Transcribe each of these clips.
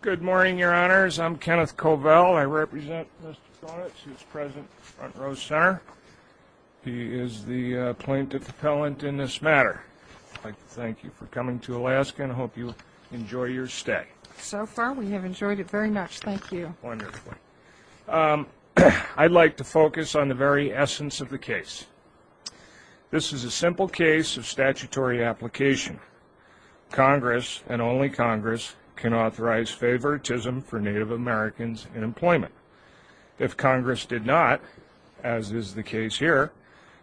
Good morning, Your Honors. I'm Kenneth Covell. I represent Mr. Conitz, who is present in the front row center. He is the plaintiff appellant in this matter. I'd like to thank you for coming to Alaska and I hope you enjoy your stay. So far we have enjoyed it very much. Thank you. Wonderful. I'd like to focus on the very essence of the case. This is a simple case of statutory application. Congress, and only Congress, can authorize favoritism for Native Americans in employment. If Congress did not, as is the case here,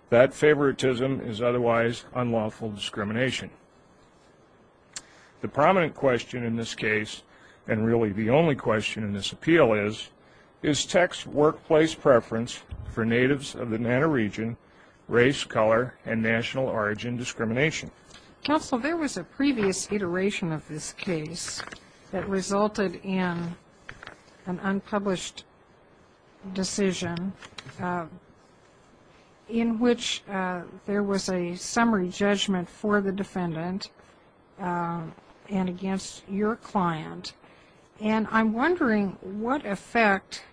that favoritism is otherwise unlawful discrimination. The prominent question in this case, and really the only question in this appeal is, is Teck's workplace preference for Natives of the Nanta region race, color, and national origin discrimination? Counsel, there was a previous iteration of this case that resulted in an unpublished decision in which there was a summary judgment for the defendant and against your client. And I'm wondering what effect,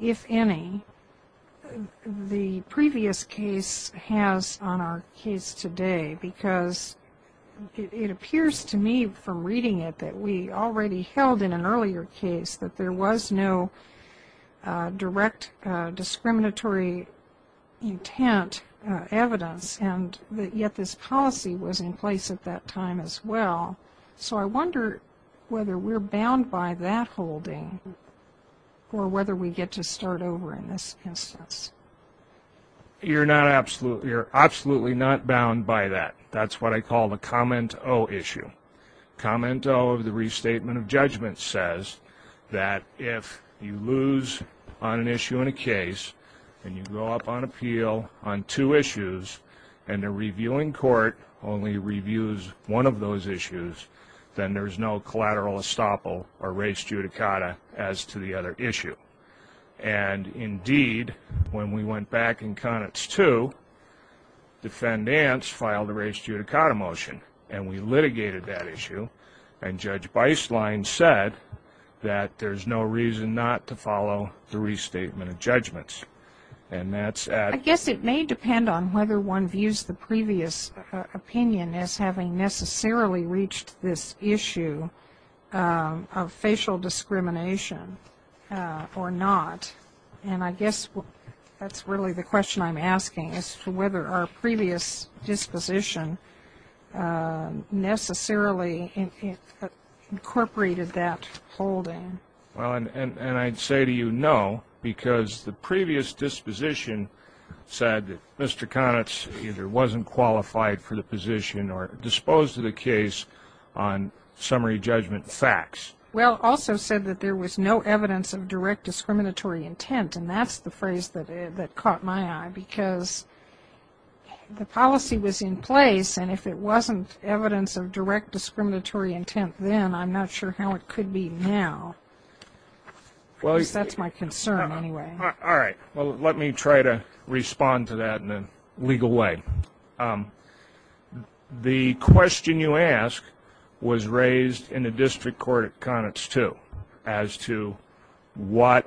if any, the previous case has on our case today because it appears to me from reading it that we already held in an earlier case that there was no direct discriminatory intent evidence and yet this policy was in place at that time as well. So I wonder whether we're bound by that holding or whether we get to start over in this instance. You're absolutely not bound by that. That's what I call the comment-o issue. Comment-o of the restatement of judgment says that if you lose on an issue in a case and you go up on appeal on two issues and the reviewing court only reviews one of those issues, then there's no collateral estoppel or res judicata as to the other issue. And indeed, when we went back in Connett's two, defendants filed a res judicata motion and we litigated that issue and Judge Beislein said that there's no reason not to follow the restatement of judgments. And that's at... I guess it may depend on whether one views the previous opinion as having necessarily reached this issue of facial discrimination or not. And I guess that's really the question I'm asking as to whether our previous disposition necessarily incorporated that holding. Well, and I'd say to you no, because the previous disposition said that Mr. Connett's either wasn't qualified for the position or disposed of the case on summary judgment facts. Well, also said that there was no evidence of direct discriminatory intent, and that's the phrase that caught my eye, because the policy was in place, and if it wasn't evidence of direct discriminatory intent then, I'm not sure how it could be now. Because that's my concern, anyway. All right, well, let me try to respond to that in a legal way. The question you ask was raised in the district court at Connett's two, as to what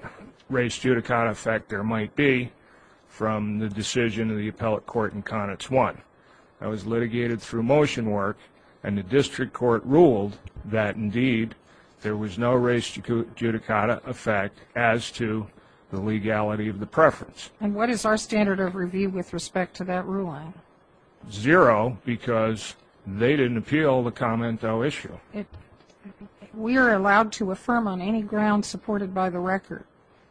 rest judicata effect there might be from the decision of the appellate court in Connett's one. That was litigated through motion work and the district court ruled that, indeed, there was no rest judicata effect as to the legality of the preference. And what is our standard of review with respect to that ruling? We are allowed to affirm on any ground supported by the record.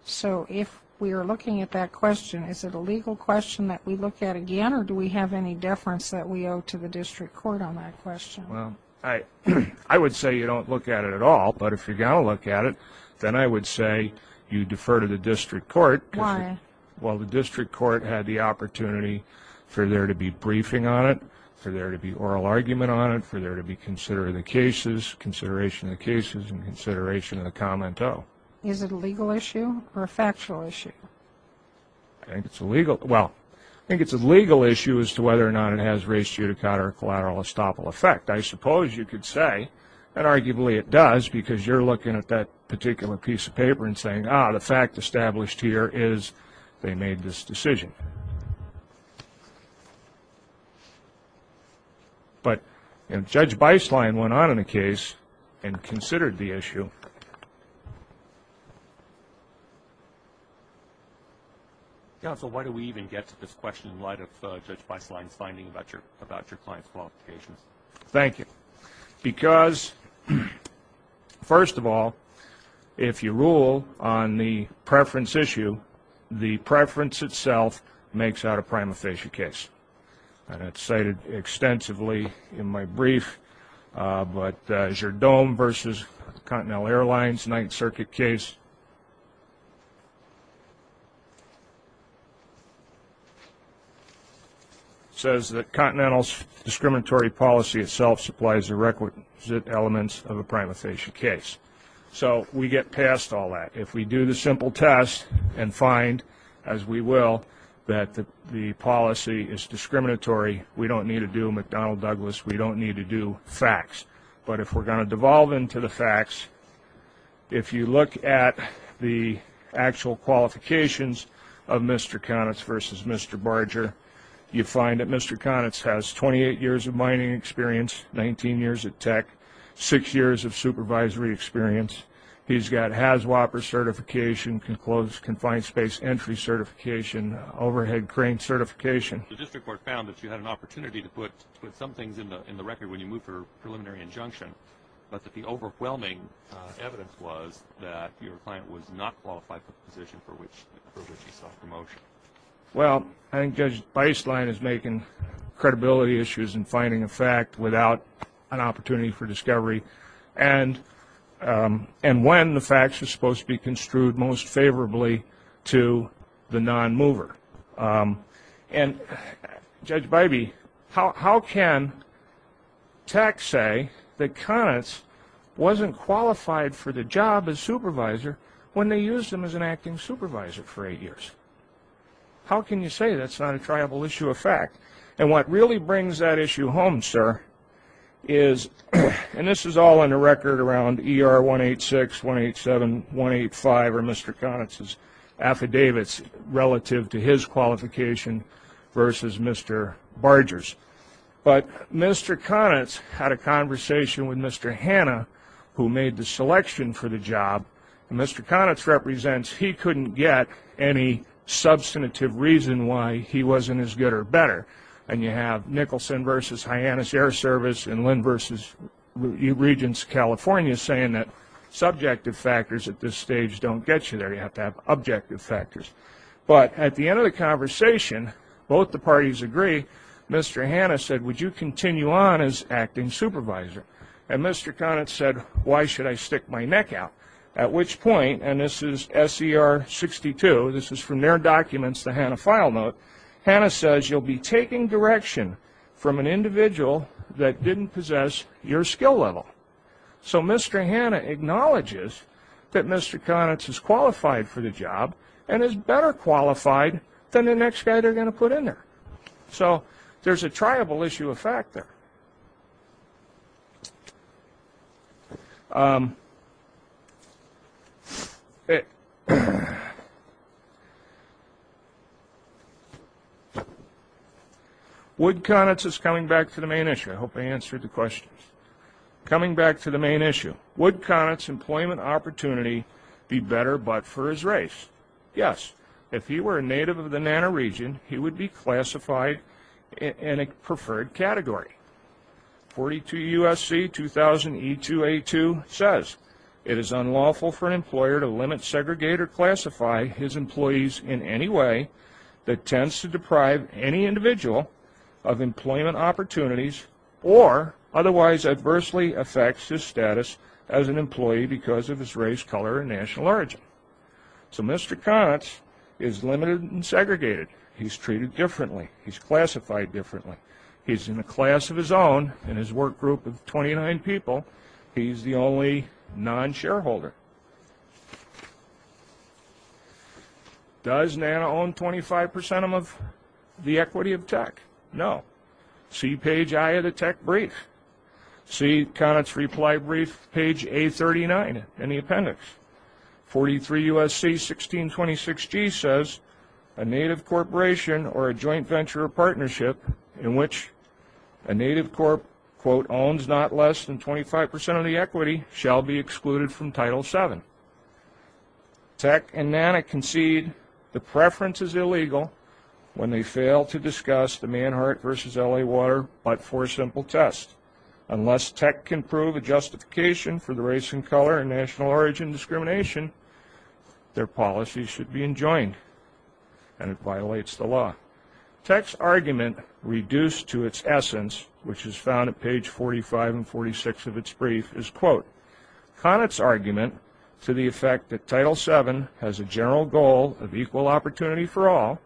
So if we are looking at that question, is it a legal question that we look at again, or do we have any deference that we owe to the district court on that question? I would say you don't look at it at all, but if you're going to look at it, then I would say you defer to the district court. Why? Well, the district court had the opportunity for there to be briefing on it, for there to be oral argument on it, for there to be consideration of the cases, consideration of the cases and consideration of the commento. Is it a legal issue or a factual issue? Well, I think it's a legal issue as to whether or not it has rest judicata or collateral estoppel effect. I suppose you could say that arguably it does because you're looking at that particular piece of paper and saying, ah, the fact established here is they made this decision. But Judge Beislein went on in a case and considered the issue. Counsel, why do we even get to this question in light of Judge Beislein's finding about your client's qualifications? Thank you. Because, first of all, if you rule on the preference issue, the preference itself makes out a prima facie case, and it's cited extensively in my brief. But Jerdome v. Continental Airlines, Ninth Circuit case, says that Continental's discriminatory policy itself supplies the requisite elements of a prima facie case. So we get past all that. If we do the simple test and find, as we will, that the policy is discriminatory, we don't need to do McDonnell-Douglas. We don't need to do facts. But if we're going to devolve into the facts, if you look at the actual qualifications of Mr. Connitz v. Mr. Barger, you find that Mr. Connitz has 28 years of mining experience, 19 years at Tech, six years of supervisory experience. He's got HAZWOPER certification, confined space entry certification, overhead crane certification. The district court found that you had an opportunity to put some things in the record when you moved for a preliminary injunction, but that the overwhelming evidence was that your client was not qualified for the position for which you sought promotion. Well, I think Judge Beislein is making credibility issues and finding a fact without an opportunity for discovery. And when the facts are supposed to be construed most favorably to the non-mover. And Judge Bybee, how can Tech say that Connitz wasn't qualified for the job as supervisor when they used him as an acting supervisor for eight years? How can you say that's not a triable issue of fact? And what really brings that issue home, sir, is, and this is all in the record around ER 186, 187, 185, or Mr. Connitz's affidavits relative to his qualification versus Mr. Barger's. But Mr. Connitz had a conversation with Mr. Hanna, who made the selection for the job, and Mr. Connitz represents he couldn't get any substantive reason why he wasn't as good or better. And you have Nicholson versus Hyannis Air Service and Lynn versus Regents California saying that subjective factors at this stage don't get you there. You have to have objective factors. But at the end of the conversation, both the parties agree, Mr. Hanna said, would you continue on as acting supervisor? And Mr. Connitz said, why should I stick my neck out? At which point, and this is SCR 62, this is from their documents, the Hanna file note, Hanna says, you'll be taking direction from an individual that didn't possess your skill level. So Mr. Hanna acknowledges that Mr. Connitz is qualified for the job and is better qualified than the next guy they're going to put in there. So there's a triable issue of fact there. Wood Connitz is coming back to the main issue, I hope I answered the questions. Coming back to the main issue, would Connitz's employment opportunity be better but for his race? Yes, if he were a native of the NANA region, he would be classified in a preferred category. 42 U.S.C. 2000 E2A2 says, it is unlawful for an employer to limit, segregate, or classify his employees in any way that tends to deprive any individual of employment opportunities or otherwise adversely affects his status as an employee because of his race, color, and national origin. So Mr. Connitz is limited and segregated. He's treated differently, he's classified differently, he's in a class of his own, in his work group of 29 people, he's the only non-shareholder. Does NANA own 25% of the equity of tech? No. See page I of the tech brief. See Connitz's reply brief, page A39 in the appendix. 43 U.S.C. 1626G says, a native corporation or a joint venture or partnership in which a native corp owns not less than 25% of the equity shall be excluded from Title VII. Tech and NANA concede the preference is illegal when they fail to discuss the Manhart v. L.A. water but for a simple test. Unless tech can prove a justification for the race and color and national origin discrimination, their policies should be enjoined, and it violates the law. Tech's argument, reduced to its essence, which is found at page 45 and 46 of its brief, is, quote, Connitz's argument to the effect that Title VII has a general goal of equal opportunity for all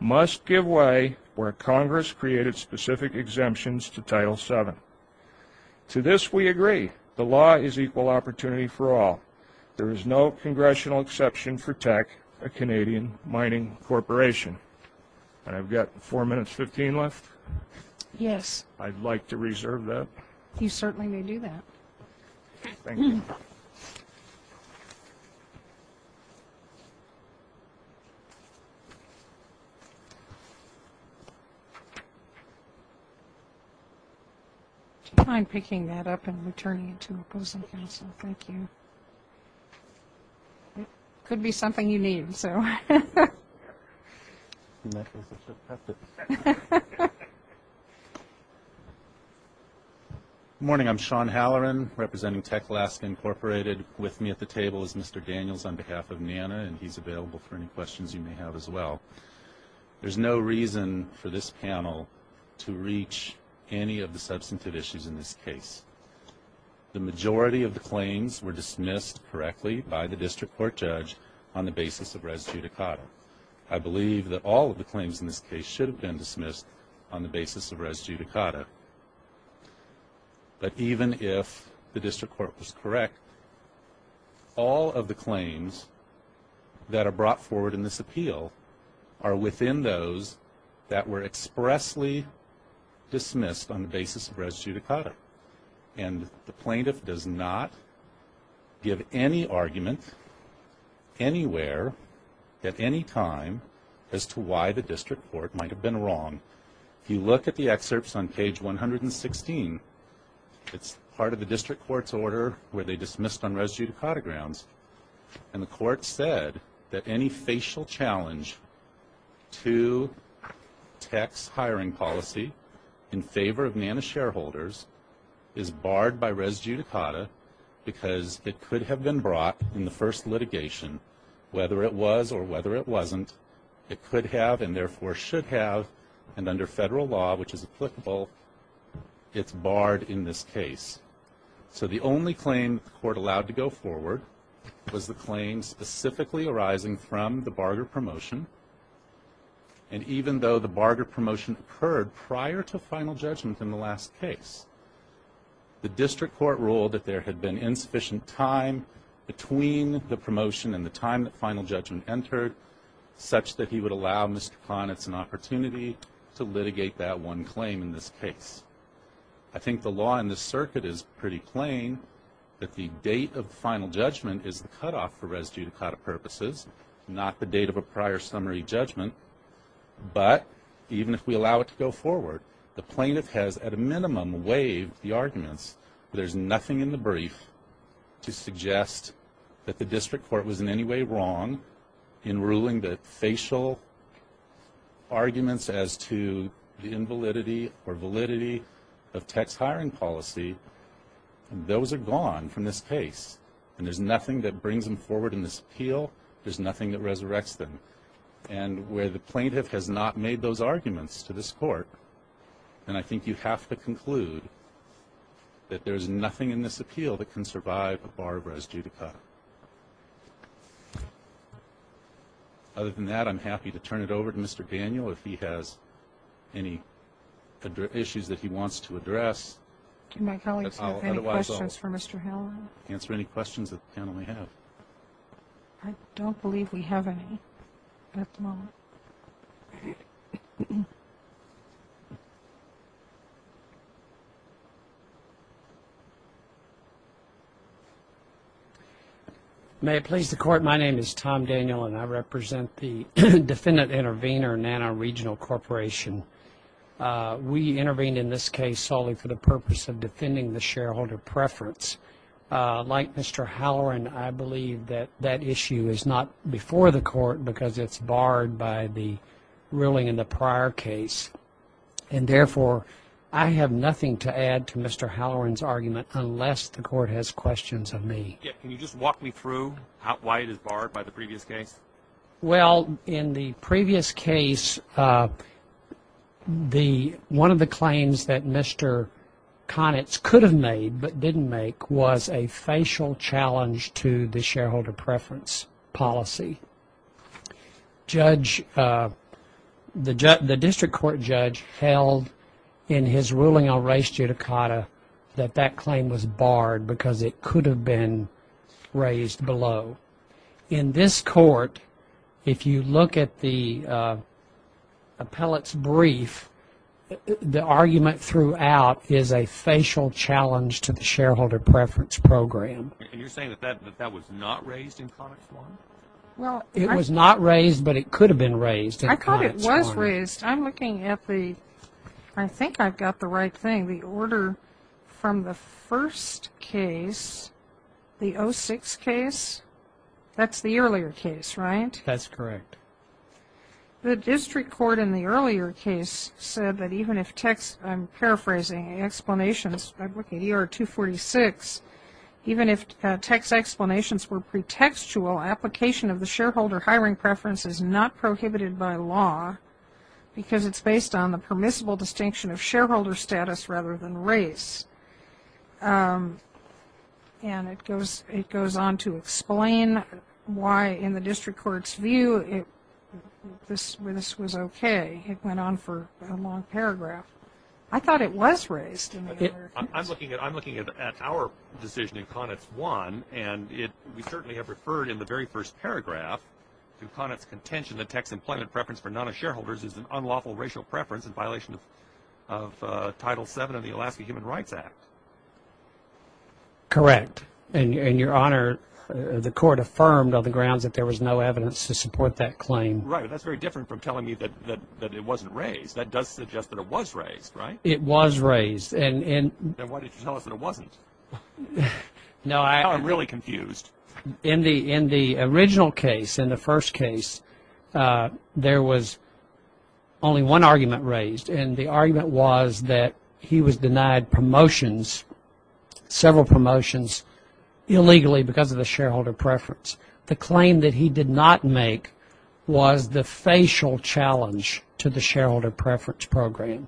must give way where Congress created specific exemptions to Title VII. To this we agree. The law is equal opportunity for all. There is no congressional exception for tech, a Canadian mining corporation. I'm picking that up and returning it to opposing counsel. Thank you. Could be something you need, so. Morning. I'm Sean Halloran, representing Tech Alaska Incorporated. With me at the table is Mr. Daniels on behalf of NANA, and he's available for any questions you may have as well. There's no reason for this panel to reach any of the substantive issues in this case. The majority of the claims were dismissed correctly by the district court judge on the basis of res judicata. I believe that all of the claims in this case should have been dismissed on the basis of res judicata. But even if the district court was correct, all of the claims that are brought forward in this appeal, are within those that were expressly dismissed on the basis of res judicata. And the plaintiff does not give any argument anywhere at any time as to why the district court might have been wrong. If you look at the excerpts on page 116, it's part of the district court's order where they dismissed on res judicata grounds. And the court said that any facial challenge to tech's hiring policy in favor of NANA shareholders is barred by res judicata, because it could have been brought in the first litigation, whether it was or whether it wasn't. It could have, and therefore should have, and under federal law, which is applicable, it's barred in this case. So the only claim the court allowed to go forward was the claim specifically arising from the Barger promotion. And even though the Barger promotion occurred prior to final judgment in the last case, the district court ruled that there had been insufficient time between the promotion and the time that final judgment entered, such that he would allow Mr. Kahnitz an opportunity to litigate that one claim in this case. I think the law in this circuit is pretty plain that the date of final judgment is the cutoff for res judicata purposes, not the date of a prior summary judgment. But even if we allow it to go forward, the plaintiff has, at a minimum, waived the arguments. There's nothing in the brief to suggest that the district court was in any way wrong in ruling the facial arguments as to the invalidity or validity of tax hiring policy. Those are gone from this case, and there's nothing that brings them forward in this appeal, there's nothing that resurrects them. And where the plaintiff has not made those arguments to this court, then I think you have to conclude that there's nothing in this appeal that can survive a bar res judicata. Other than that, I'm happy to turn it over to Mr. Daniel. If he has any issues that he wants to address, I'll answer any questions that the panel may have. I don't believe we have any at the moment. Tom Daniel. May it please the Court, my name is Tom Daniel, and I represent the Defendant Intervenor, NANA Regional Corporation. We intervened in this case solely for the purpose of defending the shareholder preference. Like Mr. Halloran, I believe that that issue is not before the Court, because it's barred by the ruling in the prior case. And therefore, I have nothing to add to Mr. Halloran's argument, unless the Court has questions of me. Can you just walk me through why it is barred by the previous case? Well, in the previous case, one of the claims that Mr. Conitz could have made, but didn't make, was a facial challenge to the shareholder preference policy. The district court judge held, in his ruling on res judicata, that that claim was barred because it could have been raised below. In this Court, if you look at the appellate's brief, the argument throughout is a facial challenge to the shareholder preference program. And you're saying that that was not raised in Conitz 1? It was not raised, but it could have been raised in Conitz 1. I'm looking at the, I think I've got the right thing, the order from the first case, the 06 case. That's the earlier case, right? That's correct. The district court in the earlier case said that even if text, I'm paraphrasing, explanations, I'm looking at ER 246, even if text explanations were pretextual, application of the shareholder hiring preference is not prohibited by law, because it's based on the permissible distinction of shareholder status rather than race. And it goes on to explain why, in the district court's view, this was okay. It went on for a long paragraph. I thought it was raised in the earlier case. I'm looking at our decision in Conitz 1, and we certainly have referred in the very first paragraph to Conitz contention that text employment preference for non-shareholders is an unlawful racial preference in violation of Title VII of the Alaska Human Rights Act. Correct. And, Your Honor, the court affirmed on the grounds that there was no evidence to support that claim. Right, but that's very different from telling me that it wasn't raised. In the first case, there was only one argument raised, and the argument was that he was denied promotions, several promotions, illegally because of the shareholder preference. The claim that he did not make was the facial challenge to the shareholder preference program,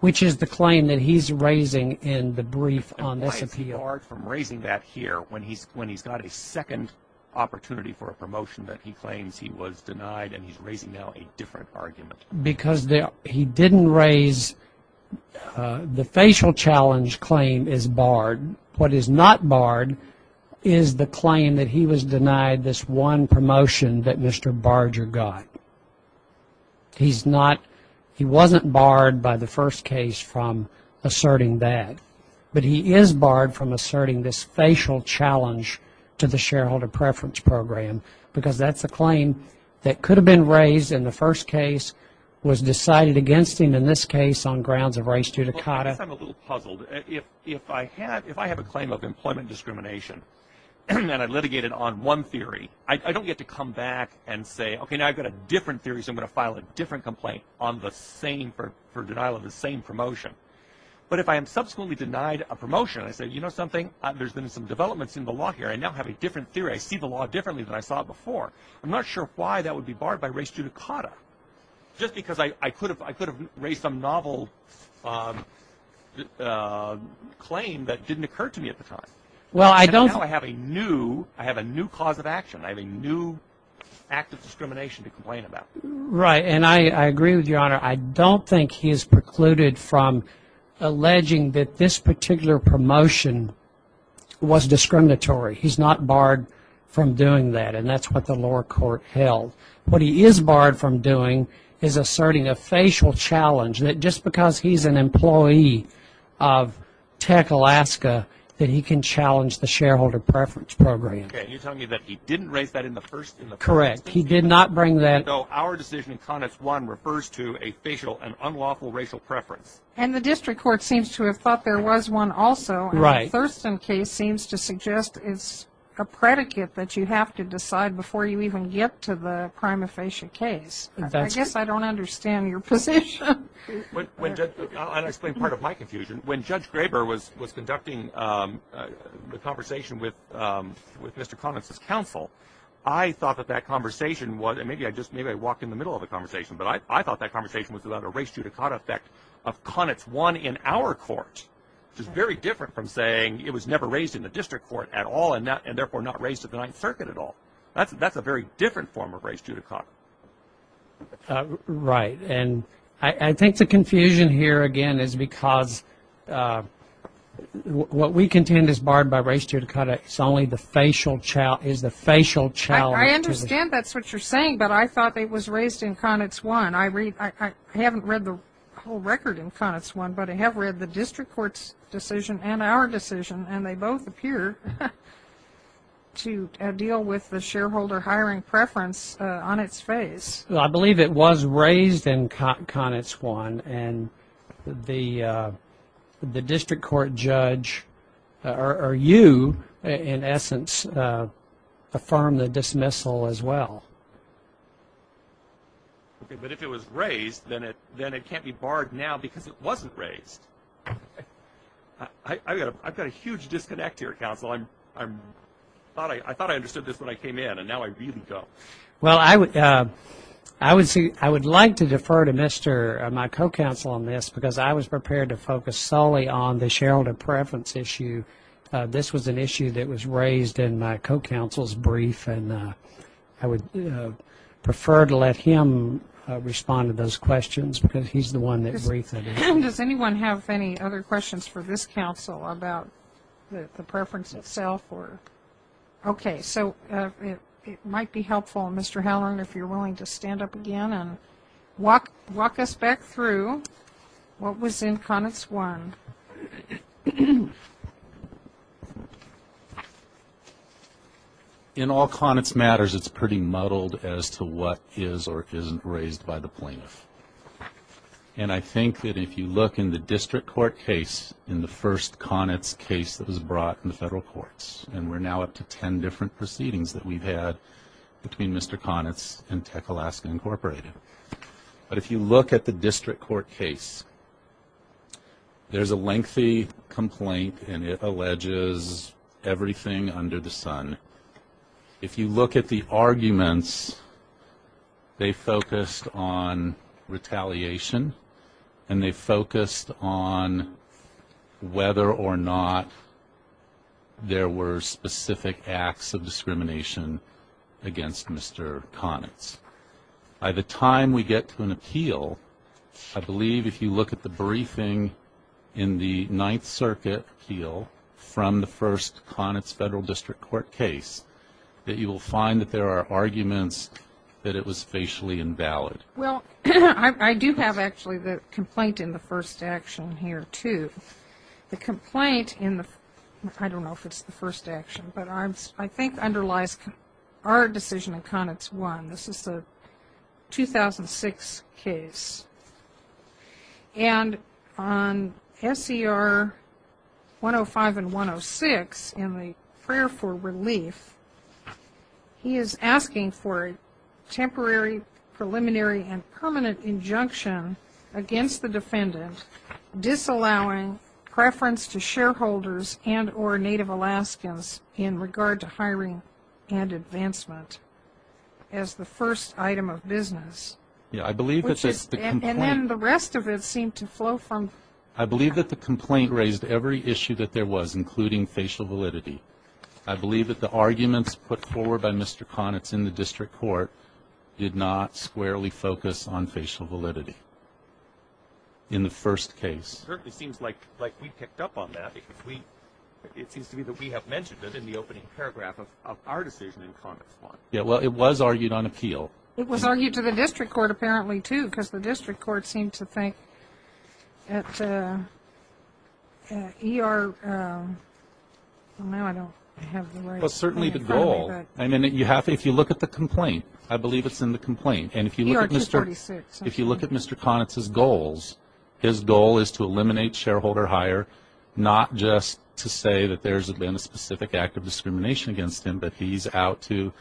which is the claim that he's raising in the brief on this appeal. Why is he barred from raising that here when he's got a second opportunity for a promotion that he claims he was denied, and he's raising now a different argument? Because he didn't raise the facial challenge claim is barred. What is not barred is the claim that he was denied this one promotion that Mr. Barger got. He's not, he wasn't barred by the first case from asserting that. But he is barred from asserting this facial challenge to the shareholder preference program, because that's a claim that could have been raised in the first case, was decided against him in this case on grounds of race due to CATA. I guess I'm a little puzzled. If I have a claim of employment discrimination, and I litigated on one theory, I don't get to come back and say, okay, now I've got a different theory, so I'm going to file a different complaint for denial of the same promotion. But if I am subsequently denied a promotion, I say, you know something, there's been some developments in the law here. I now have a different theory, I see the law differently than I saw it before. I'm not sure why that would be barred by race due to CATA. Just because I could have raised some novel claim that didn't occur to me at the time. I have a new cause of action, I have a new act of discrimination to complain about. Right, and I agree with your Honor, I don't think he is precluded from alleging that this particular promotion was discriminatory. He's not barred from doing that, and that's what the lower court held. What he is barred from doing is asserting a facial challenge, that just because he's an employee of Tech Alaska, that he can challenge the shareholder preference program. Our decision in Conex I refers to a facial and unlawful racial preference. And the district court seems to have thought there was one also, and the Thurston case seems to suggest it's a predicate that you have to decide before you even get to the prima facie case. I guess I don't understand your position. I'll explain part of my confusion. When Judge Graber was conducting the conversation with Mr. Conex's counsel, I thought that that conversation was, and maybe I just walked in the middle of the conversation, but I thought that conversation was about a race judicata effect of Conex I in our court. Which is very different from saying it was never raised in the district court at all, and therefore not raised at the Ninth Circuit at all. That's a very different form of race judicata. Right, and I think the confusion here again is because what we contend is barred by race judicata, it's only the facial challenge. I understand that's what you're saying, but I thought it was raised in Conex I. I haven't read the whole record in Conex I, but I have read the district court's decision and our decision, and they both appear to deal with the shareholder hiring preference on its behalf. I believe it was raised in Conex I, and the district court judge, or you, in essence, affirmed the dismissal as well. But if it was raised, then it can't be barred now because it wasn't raised. I've got a huge disconnect here, counsel. I thought I understood this when I came in, and now I read it. Well, I would like to defer to my co-counsel on this, because I was prepared to focus solely on the shareholder preference issue. This was an issue that was raised in my co-counsel's brief, and I would prefer to let him respond to those questions, because he's the one that briefed it. Does anyone have any other questions for this counsel about the preference itself? Okay, so it might be helpful, Mr. Halloran, if you're willing to stand up again and walk us back through what was in Conex I. In all Conex matters, it's pretty muddled as to what is or isn't raised by the plaintiff. And I think that if you look in the district court case, in the first Conex case that was brought in the federal courts, and we're now up to 10 different proceedings that we've had between Mr. Conex and Tech Alaska Incorporated. But if you look at the district court case, there's a lengthy complaint, and it alleges everything under the sun. If you look at the arguments, they focused on retaliation, and they focused on whether or not there were specific acts of discrimination against Mr. Conex. By the time we get to an appeal, I believe if you look at the briefing in the Ninth Circuit appeal from the first Conex federal district court case, there's a lengthy complaint that you will find that there are arguments that it was facially invalid. Well, I do have actually the complaint in the first action here, too. The complaint in the, I don't know if it's the first action, but I think underlies our decision in Conex I. This is a 2006 case. And on SCR 105 and 106 in the prayer for relief, he is asking for a temporary preliminary and permanent injunction against the defendant disallowing preference to shareholders and or Native Alaskans in regard to hiring and advancement as the first item of business. Yeah, I believe that's just the complaint. And then the rest of it seemed to flow from. I believe that the complaint raised every issue that there was, including facial validity. I believe that the arguments put forward by Mr. Conex in the district court did not squarely focus on facial validity in the first case. It certainly seems like we picked up on that. It seems to me that we have mentioned it in the opening paragraph of our decision in Conex I. Yeah, well, it was argued on appeal. It was argued to the district court apparently, too, because the district court seemed to think that E.R. Well, now I don't have the right. Well, certainly the goal, I mean, if you look at the complaint, I believe it's in the complaint. And if you look at Mr. Conex's goals, his goal is to eliminate shareholder hire, not just to say that there's been a specific act of discrimination against him, but he's out to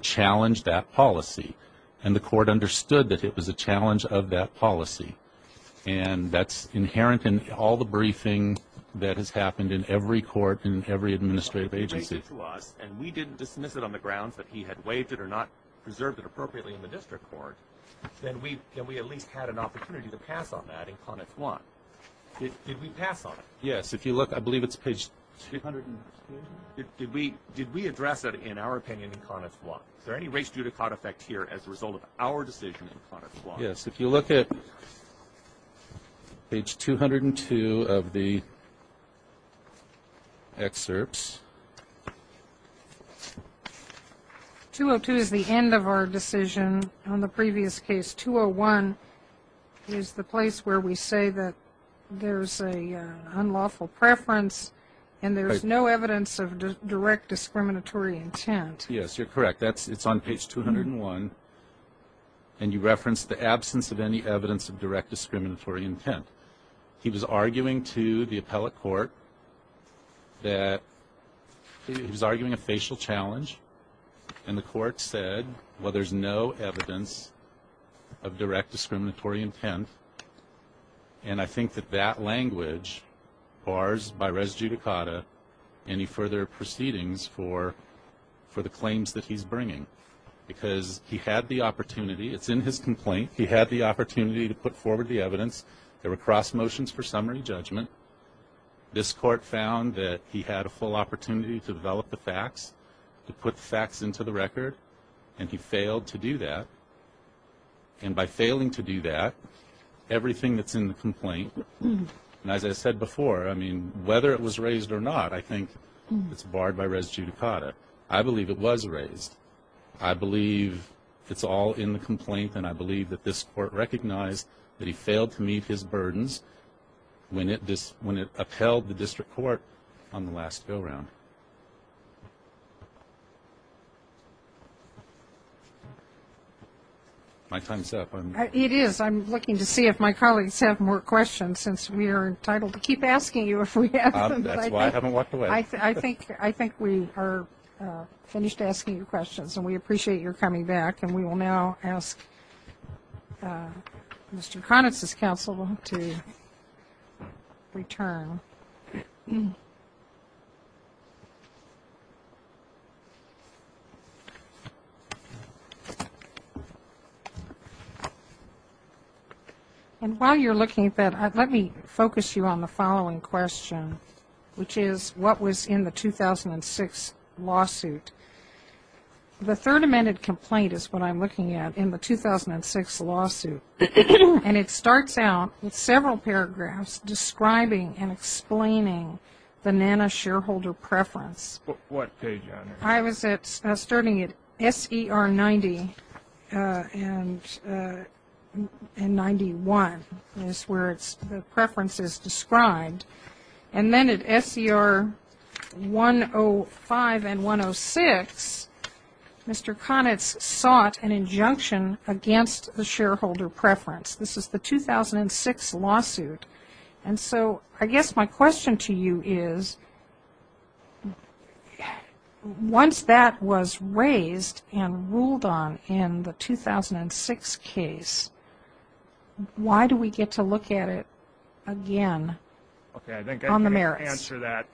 challenge that policy. And the court understood that it was a challenge of that policy. And that's inherent in all the briefing that has happened in every court and every administrative agency. Well, if he raised it to us and we didn't dismiss it on the grounds that he had waived it or not preserved it appropriately in the district court, then we at least had an opportunity to pass on that in Conex I. Did we pass on it? Yes. If you look, I believe it's page 202. Did we address it in our opinion in Conex I? Is there any race judicata effect here as a result of our decision in Conex I? Yes. If you look at page 202 of the excerpts. 202 is the end of our decision. On the previous case, 201 is the place where we say that there's an unlawful preference and there's no evidence of direct discriminatory intent. Yes, you're correct. It's on page 201, and you reference the absence of any evidence of direct discriminatory intent. He was arguing to the appellate court that he was arguing a facial challenge. And the court said, well, there's no evidence of direct discriminatory intent. And I think that that language bars by res judicata any further proceedings for the claims that he's bringing. Because he had the opportunity. Cross motions for summary judgment. This court found that he had a full opportunity to develop the facts, to put the facts into the record, and he failed to do that. And by failing to do that, everything that's in the complaint, and as I said before, I mean, whether it was raised or not, I think it's barred by res judicata. I believe it was raised. I believe it's all in the complaint, and I believe that this court recognized that he failed to meet his burdens when it upheld the district court on the last go-round. My time's up. It is. I'm looking to see if my colleagues have more questions, since we are entitled to keep asking you if we have them. That's why I haven't walked away. I think we are finished asking your questions, and we appreciate your coming back. And we will now ask Mr. Conitz's counsel to return. And while you're looking at that, let me focus you on the following question, which is what was in the 2006 lawsuit. The third amended complaint is what I'm looking at in the 2006 lawsuit. And it starts out with several paragraphs describing and explaining the NANA shareholder preference. I was starting at SER 90, and the NANA shareholder preference was that the NANA shareholder preference was N91, is where the preference is described. And then at SER 105 and 106, Mr. Conitz sought an injunction against the shareholder preference. This is the 2006 lawsuit. And so I guess my question to you is, once that was raised and ruled on in the 2006 case, why do we get to look at it again on the merits? Okay, I think I can answer that.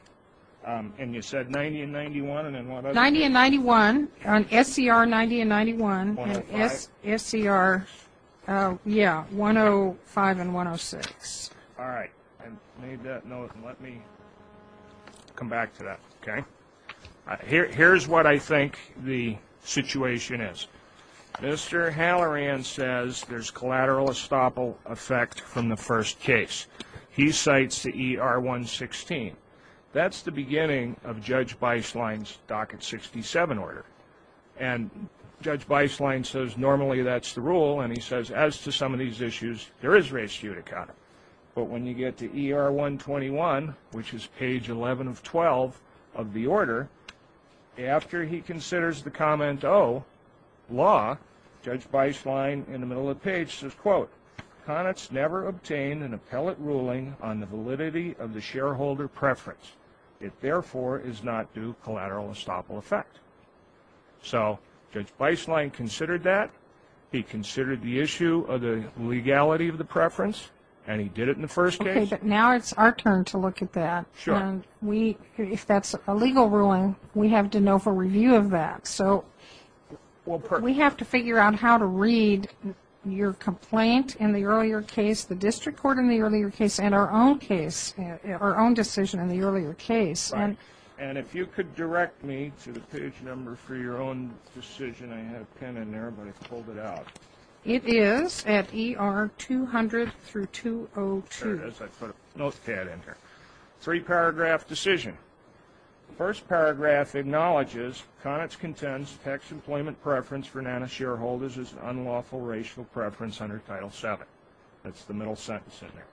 And you said 90 and 91, and then what other? 90 and 91, on SER 90 and 91, and SER 105 and 106. All right, I made that note, and let me come back to that, okay? Here's what I think the situation is. Mr. Halloran says there's collateral estoppel effect from the first case. He cites the ER 116. That's the beginning of Judge Beislein's Docket 67 order. And Judge Beislein says normally that's the rule, and he says as to some of these issues, there is race judicata. But when you get to ER 121, which is page 11 of 12 of the order, after he considers the comment, oh, law, Judge Beislein in the middle of the page says, quote, Conitz never obtained an appellate ruling on the validity of the shareholder preference. It therefore is not due collateral estoppel effect. So Judge Beislein considered that. He considered the issue of the legality of the preference, and he did it in the first case. Okay, but now it's our turn to look at that. And if that's a legal ruling, we have to know for review of that. So we have to figure out how to read your complaint in the earlier case, the district court in the earlier case, and our own case, our own decision in the earlier case. And if you could direct me to the page number for your own decision. I had a pen in there, but I pulled it out. It is at ER 200 through 202. Three-paragraph decision. First paragraph acknowledges Conitz contends tax employment preference for NANA shareholders is an unlawful racial preference under Title VII. That's the middle sentence in there.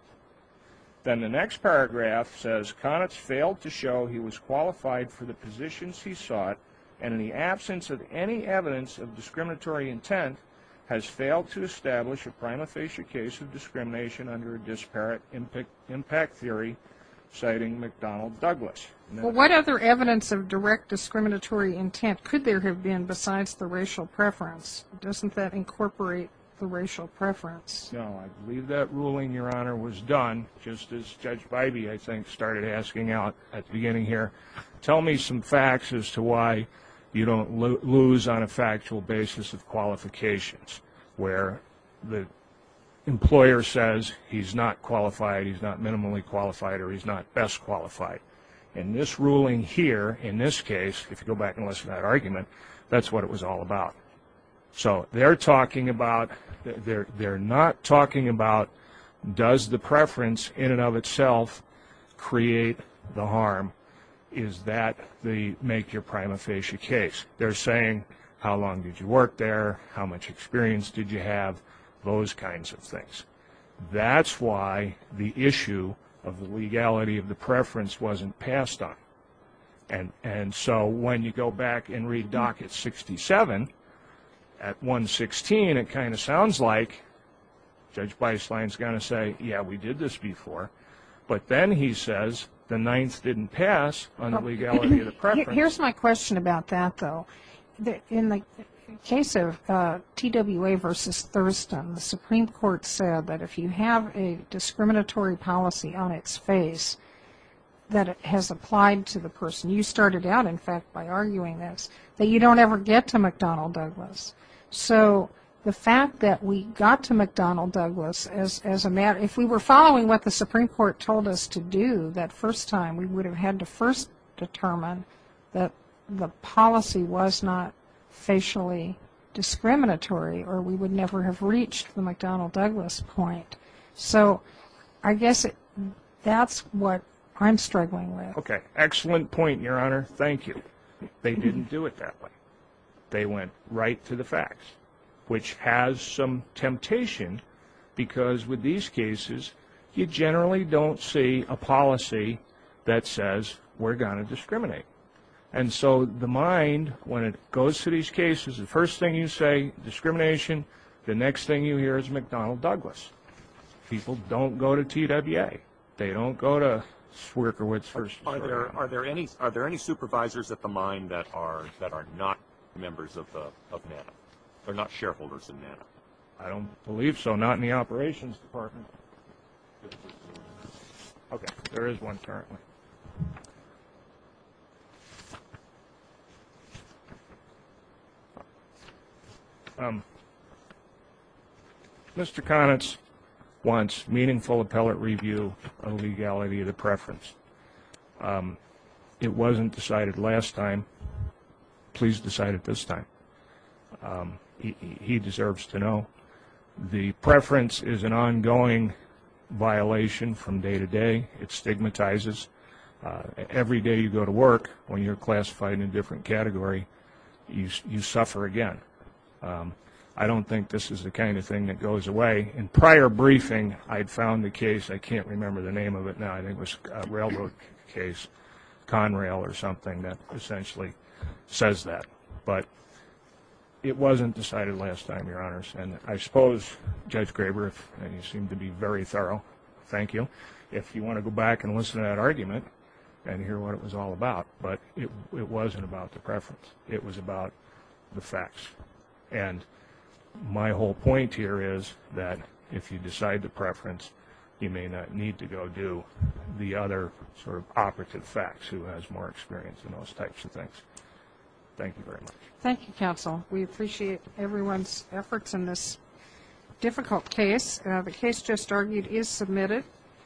Then the next paragraph says Conitz failed to show he was qualified for the positions he sought, and in the absence of any evidence of discriminatory intent, has failed to establish a prima facie case of discrimination under a disparate impact theory, citing McDonnell Douglas. Well, what other evidence of direct discriminatory intent could there have been besides the racial preference? Doesn't that incorporate the racial preference? No, I believe that ruling, Your Honor, was done just as Judge Bybee, I think, started asking out at the beginning here. Tell me some facts as to why you don't lose on a factual basis of qualifications where the employer says he's not qualified, he's not minimally qualified, or he's not best qualified. In this ruling here, in this case, if you go back and listen to that argument, that's what it was all about. So they're not talking about does the preference in and of itself create the harm. Is that the make your prima facie case? They're saying how long did you work there, how much experience did you have, those kinds of things. That's why the issue of the legality of the preference wasn't passed on. And so when you go back and read Dockett's 67, at 116 it kind of sounds like Judge Beislein's going to say, yeah, we did this before, but then he says the ninth didn't pass on the legality of the preference. Here's my question about that, though. In the case of TWA v. Thurston, the Supreme Court said that if you have a discriminatory policy on its face that it has applied to the person, you started out, in fact, by arguing this, that you don't ever get to McDonnell Douglas. So the fact that we got to McDonnell Douglas, if we were following what the Supreme Court told us to do that first time, we would have had to first determine that the policy was not facially discriminatory, or we would never have reached the McDonnell Douglas point. So I guess that's what I'm struggling with. Okay, excellent point, Your Honor. Thank you. They didn't do it that way. They went right to the facts, which has some temptation, because with these cases you generally don't see a policy that says we're going to discriminate. And so the mind, when it goes to these cases, the first thing you say, discrimination, the next thing you hear is McDonnell Douglas. People don't go to TWA. They don't go to Swierkiewicz v. Thurston. Are there any supervisors at the mind that are not members of NANA, are not shareholders in NANA? I don't believe so, not in the operations department. Okay, there is one currently. Mr. Konitz wants meaningful appellate review of legality of the preference. It wasn't decided last time. Please decide it this time. He deserves to know the preference is an ongoing violation from day to day. It stigmatizes. Every day you go to work when you're classified in a different category, you suffer again. I don't think this is the kind of thing that goes away. In prior briefing, I had found the case, I can't remember the name of it now, I think it was a railroad case, Conrail or something that essentially says that. But it wasn't decided last time, Your Honors. And I suppose Judge Graber, and you seem to be very thorough, thank you, if you want to go back and listen to that argument and hear what it was all about. But it wasn't about the preference, it was about the facts. And my whole point here is that if you decide the preference, you may not need to go do the other sort of operative facts who has more experience in those types of things. Thank you very much.